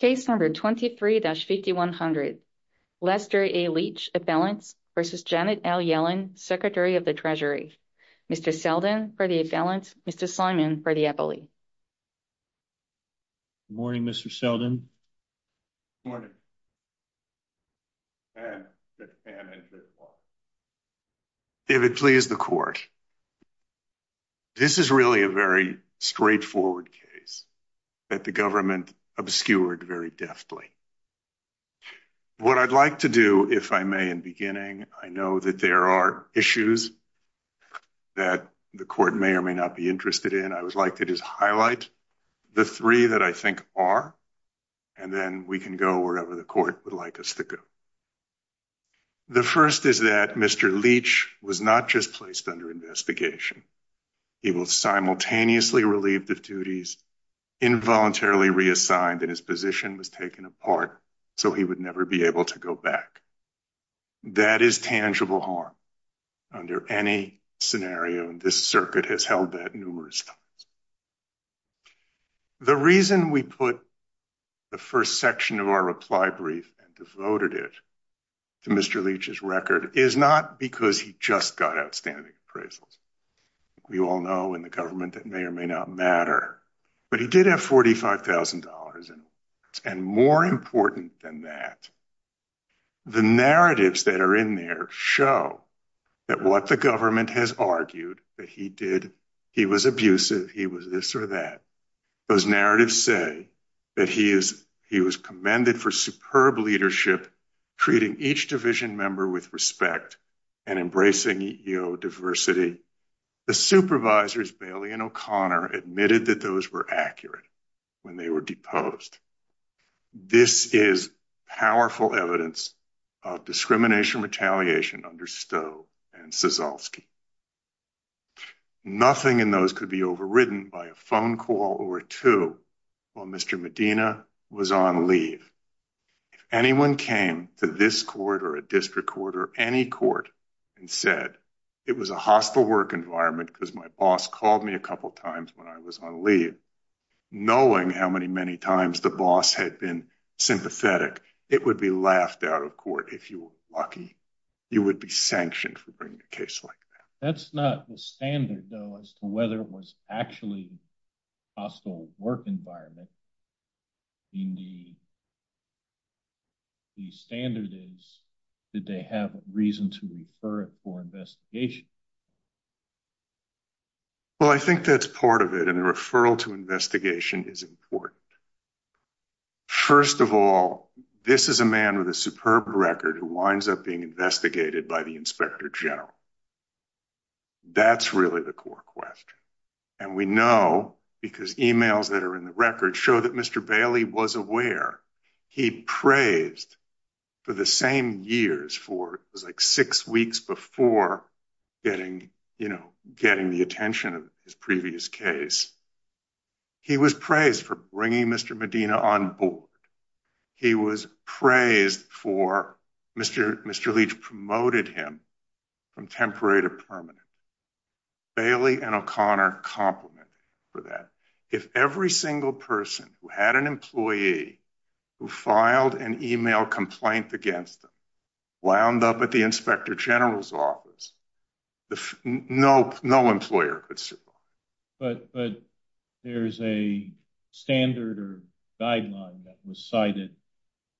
Case number 23-5100. Lester A. Leach, Appellant v. Janet L. Yellen, Secretary of the Treasury. Mr. Selden for the Appellant. Mr. Simon for the Appellant. Good morning, Mr. Selden. Good morning. David, please the court. This is really a very straightforward case that the government obscured very deftly. What I'd like to do, if I may, in beginning, I know that there are issues that the court may or may not be interested in. I would like to just highlight the three that I think are, and then we can go wherever the court would like us to go. The first is that Mr. Leach was not just placed under investigation. He was simultaneously relieved of duties, involuntarily reassigned, and his position was taken apart so he would never be able to go back. That is tangible harm under any scenario, and this circuit has held that numerous times. The reason we put the first section of our reply brief and devoted it to Mr. Leach's we all know in the government that may or may not matter, but he did have $45,000 and more important than that, the narratives that are in there show that what the government has argued that he did, he was abusive, he was this or that. Those narratives say that he is, he was commended for superb leadership, treating each division member with respect and embracing EEO diversity. The supervisors Bailey and O'Connor admitted that those were accurate when they were deposed. This is powerful evidence of discrimination, retaliation under Stowe and Sezalski. Nothing in those could be overridden by a phone call or two while Mr. Medina was on leave. If anyone came to this court or a district court or any court and said it was a hostile work environment because my boss called me a couple of times when I was on leave, knowing how many times the boss had been sympathetic, it would be laughed out of court if you were lucky. You would be sanctioned for bringing a case like that. That's not the standard though as to whether it was actually a hostile work environment. Indeed, the standard is that they have reason to refer it for investigation. Well, I think that's part of it and the referral to investigation is important. First of all, this is a man with a superb record who winds up being investigated by Inspector General. That's really the core question. We know because emails that are in the record show that Mr. Bailey was aware. He praised for the same years, it was like six weeks before getting the attention of his previous case, he was praised for bringing Mr. Medina on board. He was praised for, Mr. Leach promoted him from temporary to permanent. Bailey and O'Connor complimented for that. If every single person who had an employee who filed an email complaint against them wound up at the Inspector General's office, no employer could survive. But there's a standard or guideline that was cited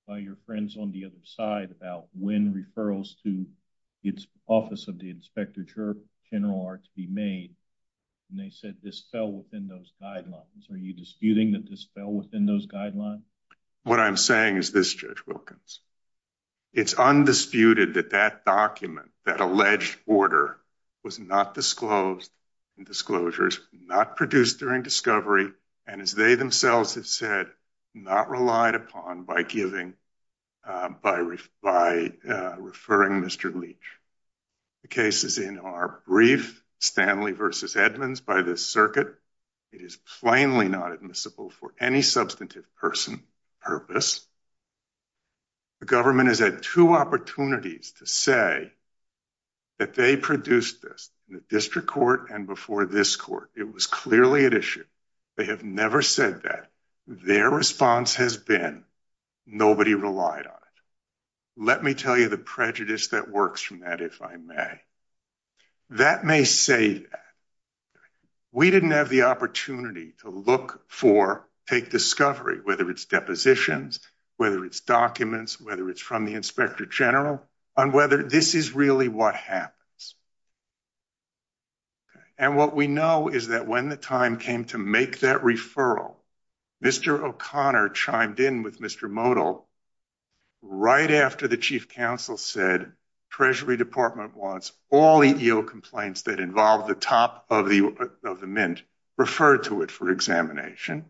by your friends on the other side about when referrals to its office of the Inspector General are to be made. They said this fell within those guidelines. Are you disputing that this fell within those guidelines? What I'm saying is this Judge Wilkins, it's undisputed that that document, that alleged order was not disclosed and disclosures not produced during discovery. And as they themselves have said, not relied upon by giving, by referring Mr. Leach. The cases in our brief Stanley versus Edmonds by this circuit, it is plainly not admissible for any substantive person purpose. The government has had two opportunities to say that they produced this in the district court and before this court, it was clearly an issue. They have never said that. Their response has been, nobody relied on it. Let me tell you the prejudice that works from that, if I may. That may say that we didn't have the opportunity to look for, take discovery, whether it's positions, whether it's documents, whether it's from the Inspector General on whether this is really what happens. And what we know is that when the time came to make that referral, Mr. O'Connor chimed in with Mr. Modell right after the chief counsel said treasury department wants all EEO complaints that involve the top of the, of the mint referred to it for examination.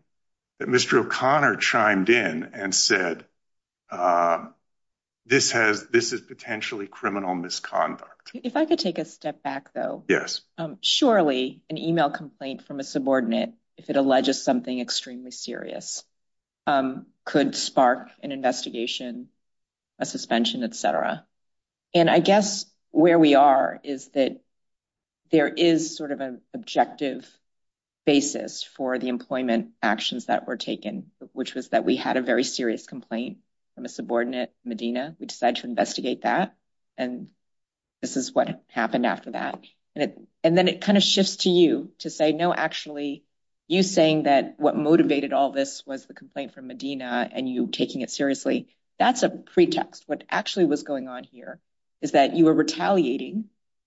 That Mr. O'Connor chimed in and said, this has, this is potentially criminal misconduct. If I could take a step back though, surely an email complaint from a subordinate, if it alleges something extremely serious, could spark an investigation, a suspension, et cetera. And I guess where we are is that there is sort of an objective basis for the employment actions that were taken, which was that we had a very serious complaint from a subordinate Medina. We decided to investigate that. And this is what happened after that. And then it kind of shifts to you to say, no, actually you saying that what motivated all this was the complaint from Medina and you taking it seriously. That's a pretext. What actually was going on here is that you were retaliating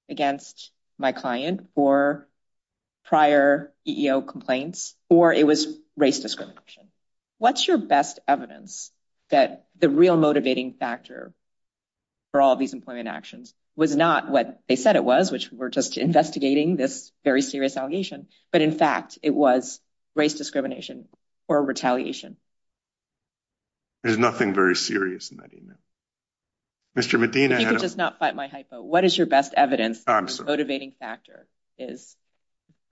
against my client for prior EEO complaints, or it was race discrimination. What's your best evidence that the real motivating factor for all of these employment actions was not what they said it was, which we were just investigating this very serious allegation, but in fact it was race discrimination or retaliation. There's nothing very serious in that email. Mr. Medina. If you could just not fight my hypo, what is your best evidence?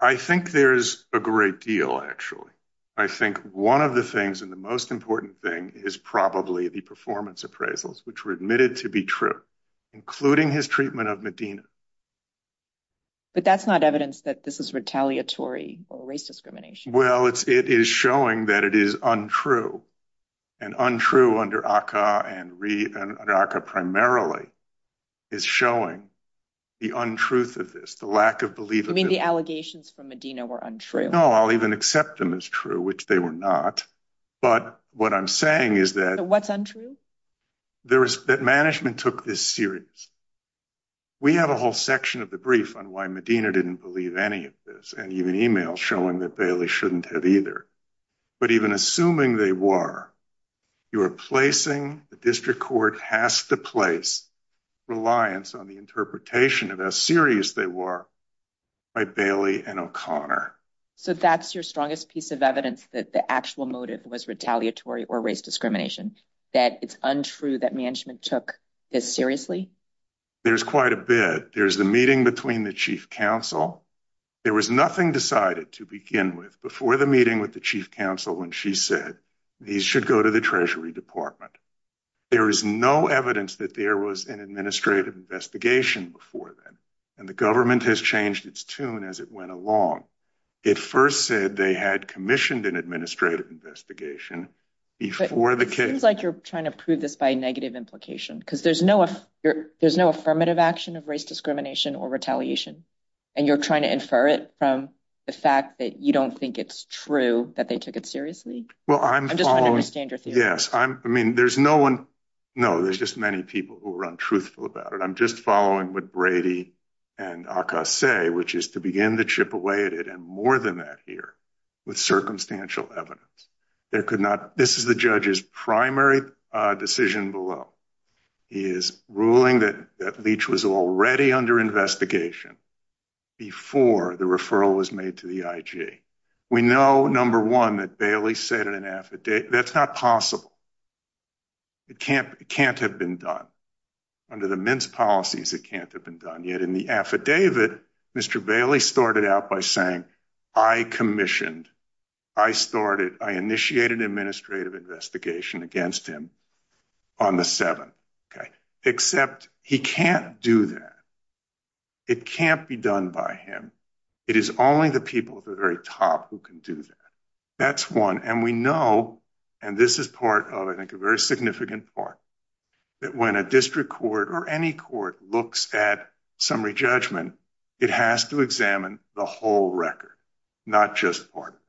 I think there's a great deal actually. I think one of the things, and the most important thing is probably the performance appraisals, which were admitted to be true, including his treatment of Medina. But that's not evidence that this is retaliatory or race discrimination. Well, it's, it is showing that it is untrue and untrue under ACA and RE and ACA primarily is showing the untruth of this, the lack of belief. You mean the allegations from Medina were untrue? No, I'll even accept them as true, which they were not. But what I'm saying is that What's untrue? There is, that management took this serious. We have a whole section of the brief on why Medina didn't believe any of this, and even email showing that Bailey shouldn't have either. But even assuming they were, you are placing, the district court has to place reliance on the interpretation of how serious they were by Bailey and O'Connor. So that's your strongest piece of evidence that the actual motive was retaliatory or race discrimination, that it's untrue that management took this seriously? There's quite a bit. There's the meeting between the chief counsel. There was nothing decided to begin with before the meeting with the chief counsel when she said, these should go to the treasury department. There is no evidence that there was an administrative investigation before then. And the government has changed its tune as it went along. It first said they had commissioned an administrative investigation before the case. It seems like you're trying to prove this by negative implication, because there's no affirmative action of race discrimination or retaliation, and you're trying to infer it from the fact that you don't think it's true that they took it seriously. I'm just trying to understand your theory. Yes, I mean, there's no one. No, there's just many people who are untruthful about it. I'm just following what Brady and Acas say, which is to begin to chip away at it, more than that here, with circumstantial evidence. This is the judge's primary decision below. He is ruling that Leach was already under investigation before the referral was made to the IG. We know, number one, that Bailey said in an affidavit, that's not possible. It can't have been done. Under the Mint's policies, it can't have been done. In the affidavit, Mr. Bailey started out by saying, I commissioned, I initiated an administrative investigation against him on the 7th, except he can't do that. It can't be done by him. It is only the people at the very top who can do that. That's one. We know, and this is part of, I think, a very significant part, that when a district court or any court looks at summary judgment, it has to examine the whole record, not just part of it.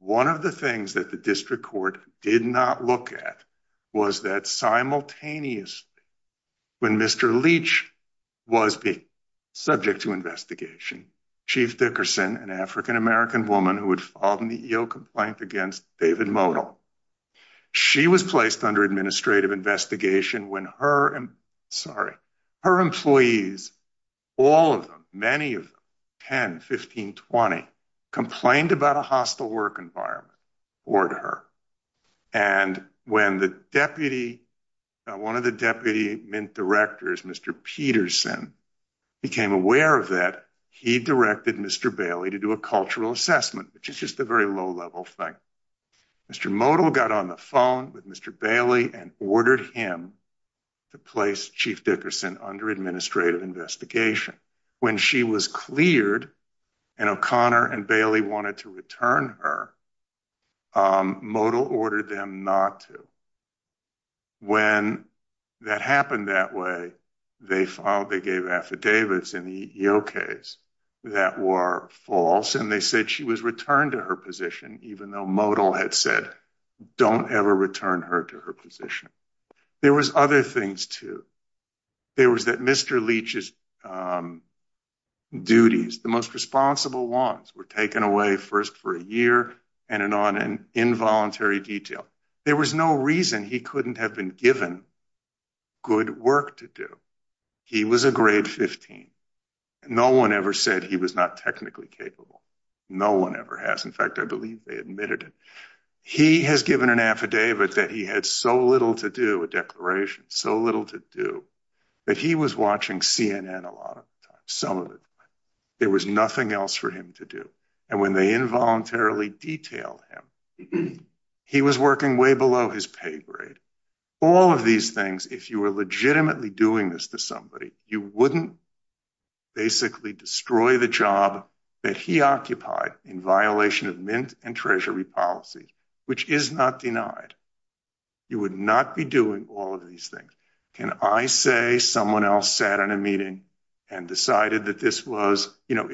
One of the things that the district court did not look at was that simultaneously, when Mr. Leach was being subject to investigation, Chief Dickerson, an African-American woman who had filed an EO complaint against David Modell, she was placed under administrative investigation when her employees, all of them, many of them, 10, 15, 20, complained about a hostile work environment toward her. When one of the deputy Mint directors, Mr. Peterson, became aware of that, he directed Mr. Bailey to do a cultural assessment, which is just a very low-level thing. Mr. Modell got on the phone with Mr. Bailey and ordered him to place Chief Dickerson under administrative investigation. When she was cleared and O'Connor and Bailey wanted to return her, Modell ordered them not to. When that happened that way, they gave affidavits in the EO case that were false, and they said she was returned to her position, even though Modell had said, don't ever return her to her position. There was other things, too. There was that Mr. Leach's duties, the most responsible ones, were taken away first for a year, and on involuntary detail. There was no reason he couldn't have been given good work to do. He was a grade 15. No one ever said he was not technically capable. No one ever has. In fact, I believe they admitted it. He has given an affidavit that he had so little to do, a declaration, so little to do, that he was watching CNN a lot of the time, some of it. There was nothing else for him to do. When they involuntarily detailed him, he was working way below his pay grade. All of these things, if you were legitimately doing this to somebody, you wouldn't basically destroy the job that he occupied in violation of Mint and Treasury policies, which is not denied. You would not be doing all of these things. Can I say someone else sat in a meeting and decided that this was, you know,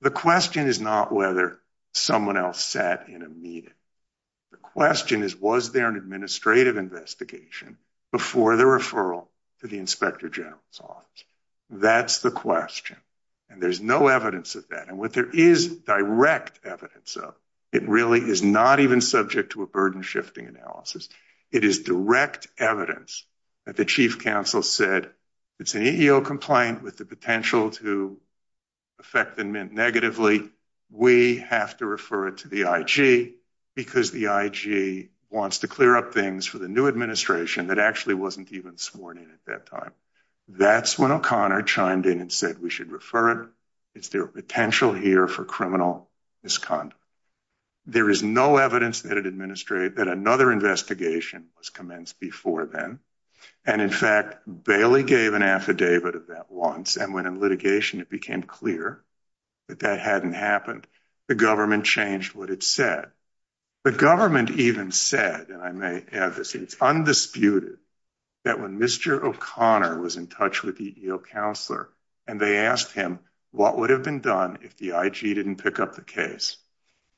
the question is not whether someone else sat in a meeting. The investigation before the referral to the inspector general's office. That's the question. And there's no evidence of that. And what there is direct evidence of, it really is not even subject to a burden-shifting analysis. It is direct evidence that the chief counsel said, it's an EEO complaint with the potential to affect the Mint negatively. We have to refer it to the wants to clear up things for the new administration that actually wasn't even sworn in at that time. That's when O'Connor chimed in and said we should refer it. It's their potential here for criminal misconduct. There is no evidence that another investigation was commenced before then. And in fact, Bailey gave an affidavit of that once. And when in litigation, it became clear that that hadn't happened, the government changed what it said. The government even said, and I may add this, it's undisputed that when Mr. O'Connor was in touch with the EEO counselor and they asked him what would have been done if the IG didn't pick up the case,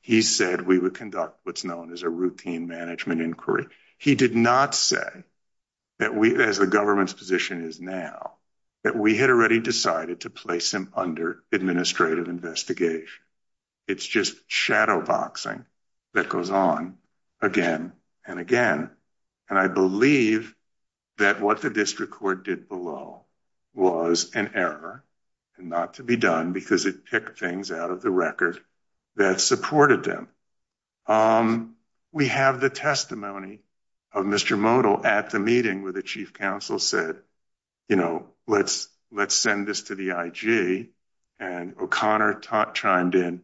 he said we would conduct what's known as a routine management inquiry. He did not say that we, as the government's position is now, that we had already decided to place him under investigation. It's just shadow boxing that goes on again and again. And I believe that what the district court did below was an error and not to be done because it picked things out of the record that supported them. We have the testimony of Mr. Modell at the meeting where the chief counsel said, you know, let's send this to the IG. And O'Connor chimed in,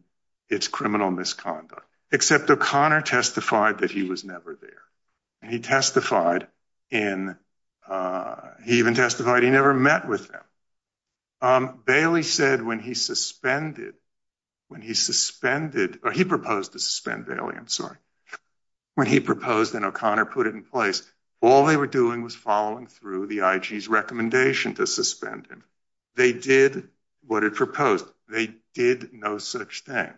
it's criminal misconduct. Except O'Connor testified that he was never there. He testified in, he even testified he never met with them. Bailey said when he suspended, when he suspended, or he proposed to suspend Bailey, I'm sorry. When he proposed and O'Connor put it in place, all they were doing was following through the IG's recommendation to suspend him. They did what it proposed. They did no such thing.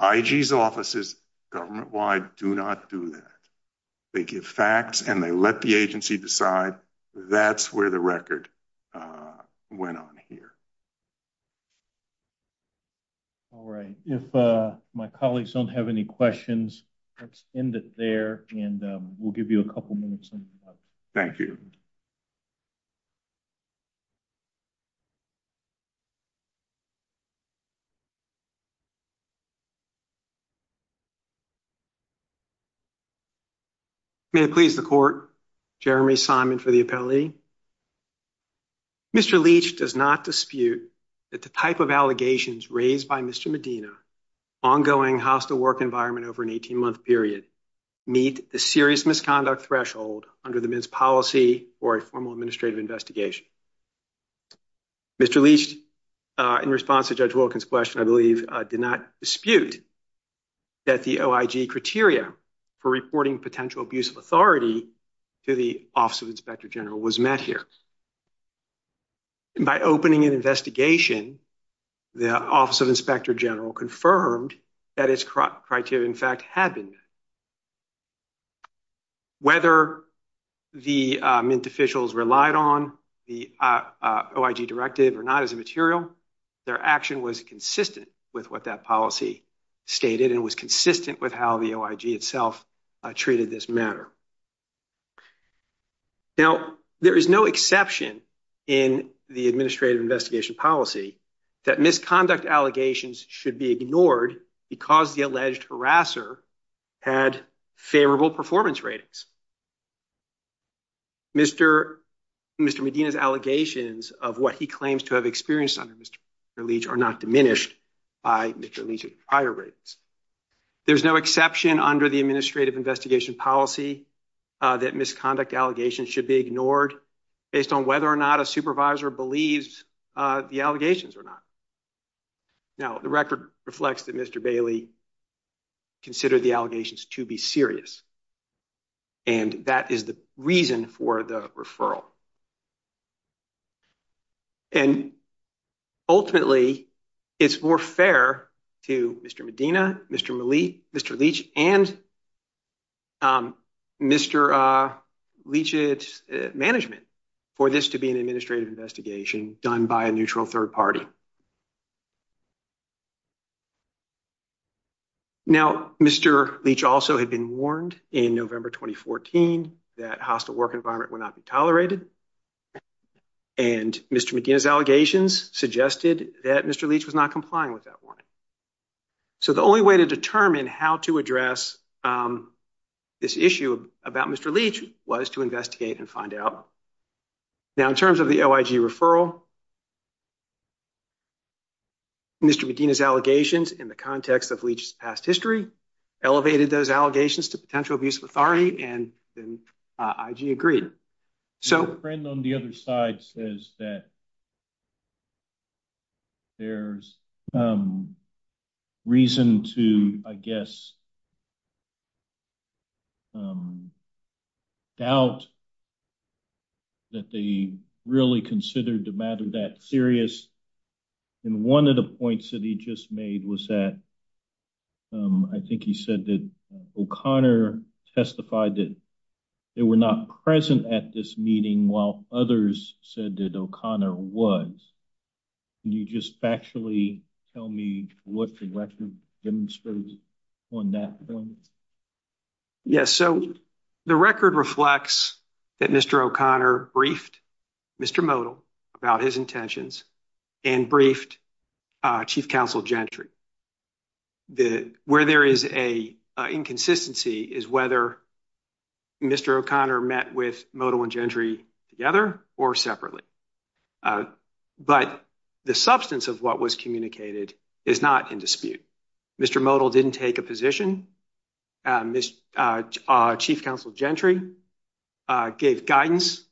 IG's offices, government-wide, do not do that. They give facts and they let the agency decide. That's where the record went on here. All right. If my colleagues don't have any questions, let's end it there and we'll give you a couple minutes. Thank you. May it please the court, Jeremy Simon for the appellee. Mr. Leach does not dispute that the type of allegations raised by Mr. Medina, ongoing hostile work environment over an 18-month period, meet the serious misconduct threshold under the men's policy for a formal administrative investigation. Mr. Leach, in response to Judge Wilkins' question, I believe did not dispute that the OIG criteria for reporting potential abuse of authority to the Office of Inspector General was met here. And by opening an investigation, the Office of Inspector General confirmed that its criteria, in fact, had been met. Whether the Mint officials relied on the OIG directive or not as a material, their action was consistent with what that policy stated and was consistent with how the OIG itself treated this matter. Now, there is no exception in the administrative investigation policy that misconduct allegations should be ignored because the alleged harasser had favorable performance ratings. Mr. Medina's allegations of what he claims to have experienced under Mr. Leach are not diminished by Mr. Leach's prior ratings. There's no exception under the administrative investigation policy that misconduct allegations should be ignored based on whether or not a supervisor believes the allegations or not. Now, the record reflects that Mr. Bailey considered the allegations to be serious, and that is the reason for the referral. And ultimately, it's more fair to Mr. Medina, Mr. Leach, and Mr. Leach's management for this to be an administrative investigation done by a neutral third party. Now, Mr. Leach also had been warned in November 2014 that hostile work environment would not be tolerated, and Mr. Medina's allegations suggested that Mr. Leach was not complying with that warning. So, the only way to determine how to address this issue about Mr. Leach was to investigate and find out. Now, in terms of the OIG referral, Mr. Medina's allegations in the context of Leach's past history elevated those allegations to potential abuse of authority, and then IG agreed. So... The friend on the other side says that there's reason to, I guess, doubt that they really considered the matter that serious. And one of the points that he just made was that, I think he said that O'Connor testified that they were not present at this meeting while others said that O'Connor was. Can you just factually tell me what the record demonstrates on that point? Yes. So, the record reflects that Mr. O'Connor briefed Mr. Modell about his Modell and Gentry. Where there is an inconsistency is whether Mr. O'Connor met with Modell and Gentry together or separately. But the substance of what was communicated is not in dispute. Mr. Modell didn't take a position. Chief Counsel Gentry gave guidance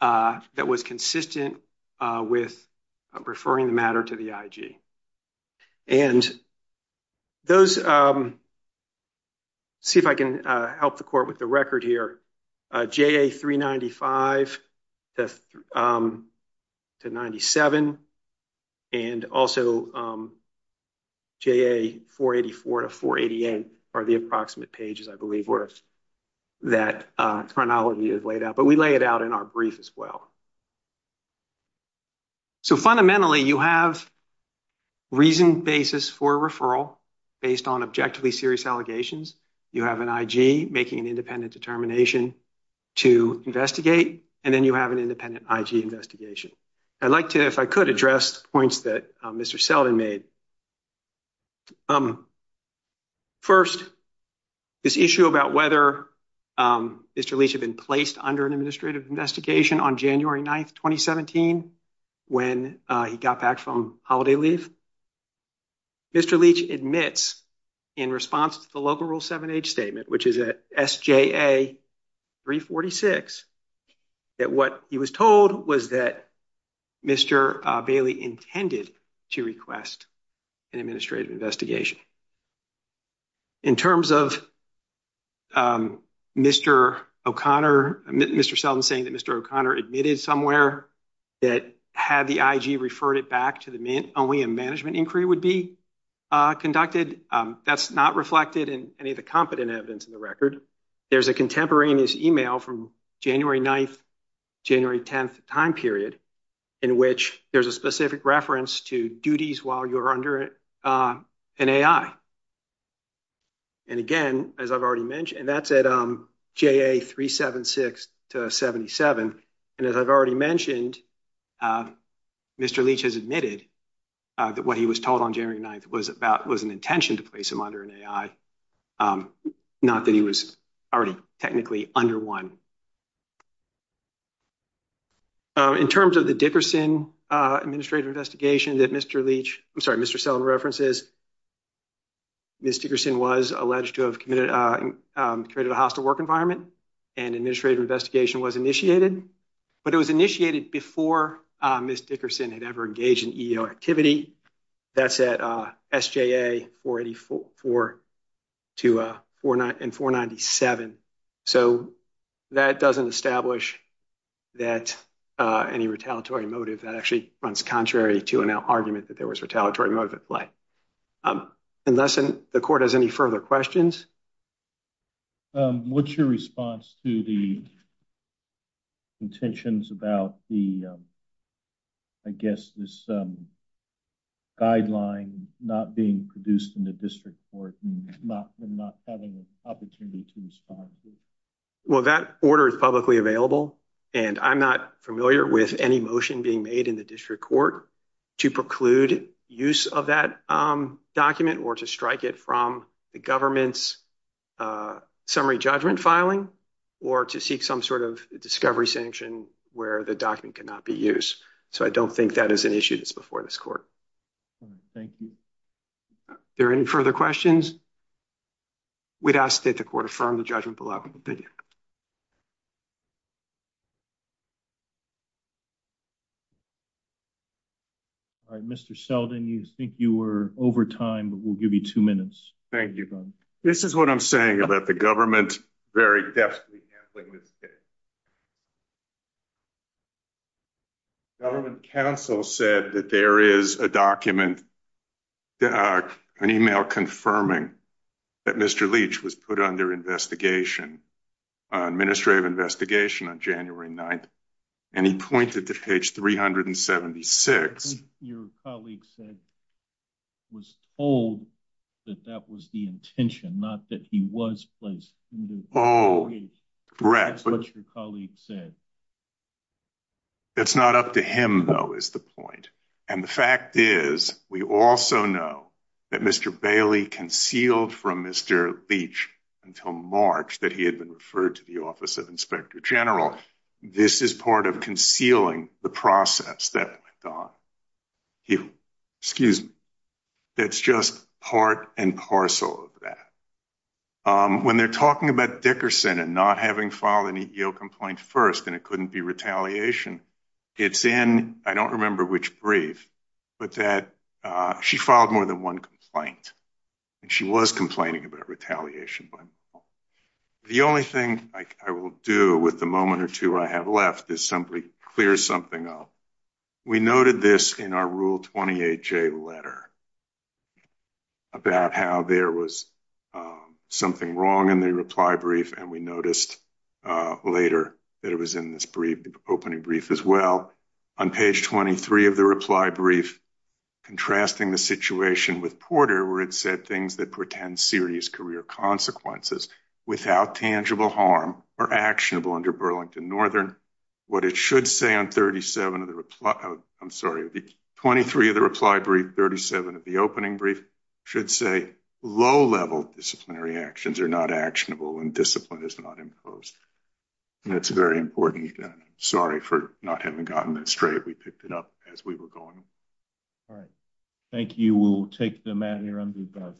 that was consistent with referring the matter to the IG. And those... See if I can help the court with the record here. JA 395 to 97, and also JA 484 to 488 are the approximate pages, I believe, that chronology is laid out. But we lay it out in our brief as well. So, fundamentally, you have reasoned basis for referral based on objectively serious allegations. You have an IG making an independent determination to investigate, and then you have an independent IG investigation. I'd like to, if I could, address the points that Mr. Sullivan made. First, this issue about whether Mr. Leach had been placed under an administrative investigation on January 9th, 2017, when he got back from holiday leave. Mr. Leach admits in response to the local Rule 7H statement, which is at SJA 346, that what he was told was that Mr. Bailey intended to request an administrative investigation. In terms of Mr. O'Connor... Mr. Sullivan saying Mr. O'Connor admitted somewhere that had the IG referred it back, only a management inquiry would be conducted. That's not reflected in any of the competent evidence in the record. There's a contemporaneous email from January 9th, January 10th time period, in which there's a specific reference to duties while you're under an AI. And again, as I've already mentioned, that's at JA 376 to 77. And as I've already mentioned, Mr. Leach has admitted that what he was told on January 9th was an intention to place him under an AI, not that he was already technically under one. In terms of the Dickerson administrative investigation that Mr. Leach... I'm sorry, Mr. Sullivan references, Ms. Dickerson was alleged to have committed... created a hostile work environment and administrative investigation was initiated. But it was initiated before Ms. Dickerson had ever engaged in EO activity. That's at SJA 484 to 497. So that doesn't establish that any retaliatory motive that runs contrary to an argument that there was retaliatory motive at play. Unless the court has any further questions? What's your response to the intentions about the, I guess, this guideline not being produced in the district court and not having an opportunity to respond? Well, that order is publicly available and I'm not familiar with any motion being made in the district court to preclude use of that document or to strike it from the government's summary judgment filing or to seek some sort of discovery sanction where the document cannot be used. So I don't think that is an issue that's before this court. Thank you. Are there any further questions? We'd ask that the court confirm the judgment below. All right, Mr. Sullivan, you think you were over time, but we'll give you two minutes. Thank you. This is what I'm saying about the government very deftly handling this case. Government counsel said that there is a document, uh, an email confirming that Mr. Leach was put under investigation, uh, administrative investigation on January 9th and he pointed to page 376. Your colleague said was told that that was the intention, not that he was placed. Oh, correct. That's what your that Mr. Bailey concealed from Mr. Leach until March that he had been referred to the Office of Inspector General. This is part of concealing the process that he, excuse me, that's just part and parcel of that. Um, when they're talking about Dickerson and not having filed an EEO complaint first and it couldn't be retaliation, it's in, I don't remember which brief, but that, uh, she filed more than one complaint and she was complaining about retaliation. The only thing I will do with the moment or two I have left is simply clear something up. We noted this in our Rule 28J letter about how there was, um, something wrong in the reply brief and we noticed, uh, later that it was in this brief opening brief as well. On page 23 of the situation with Porter where it said things that pretend serious career consequences without tangible harm are actionable under Burlington Northern. What it should say on 37 of the reply, I'm sorry, 23 of the reply brief, 37 of the opening brief should say low-level disciplinary actions are not actionable and discipline is not enclosed. And that's very important. Sorry for not having gotten that straight. We picked it up as we were going. All right. Thank you. We'll take the mat here on the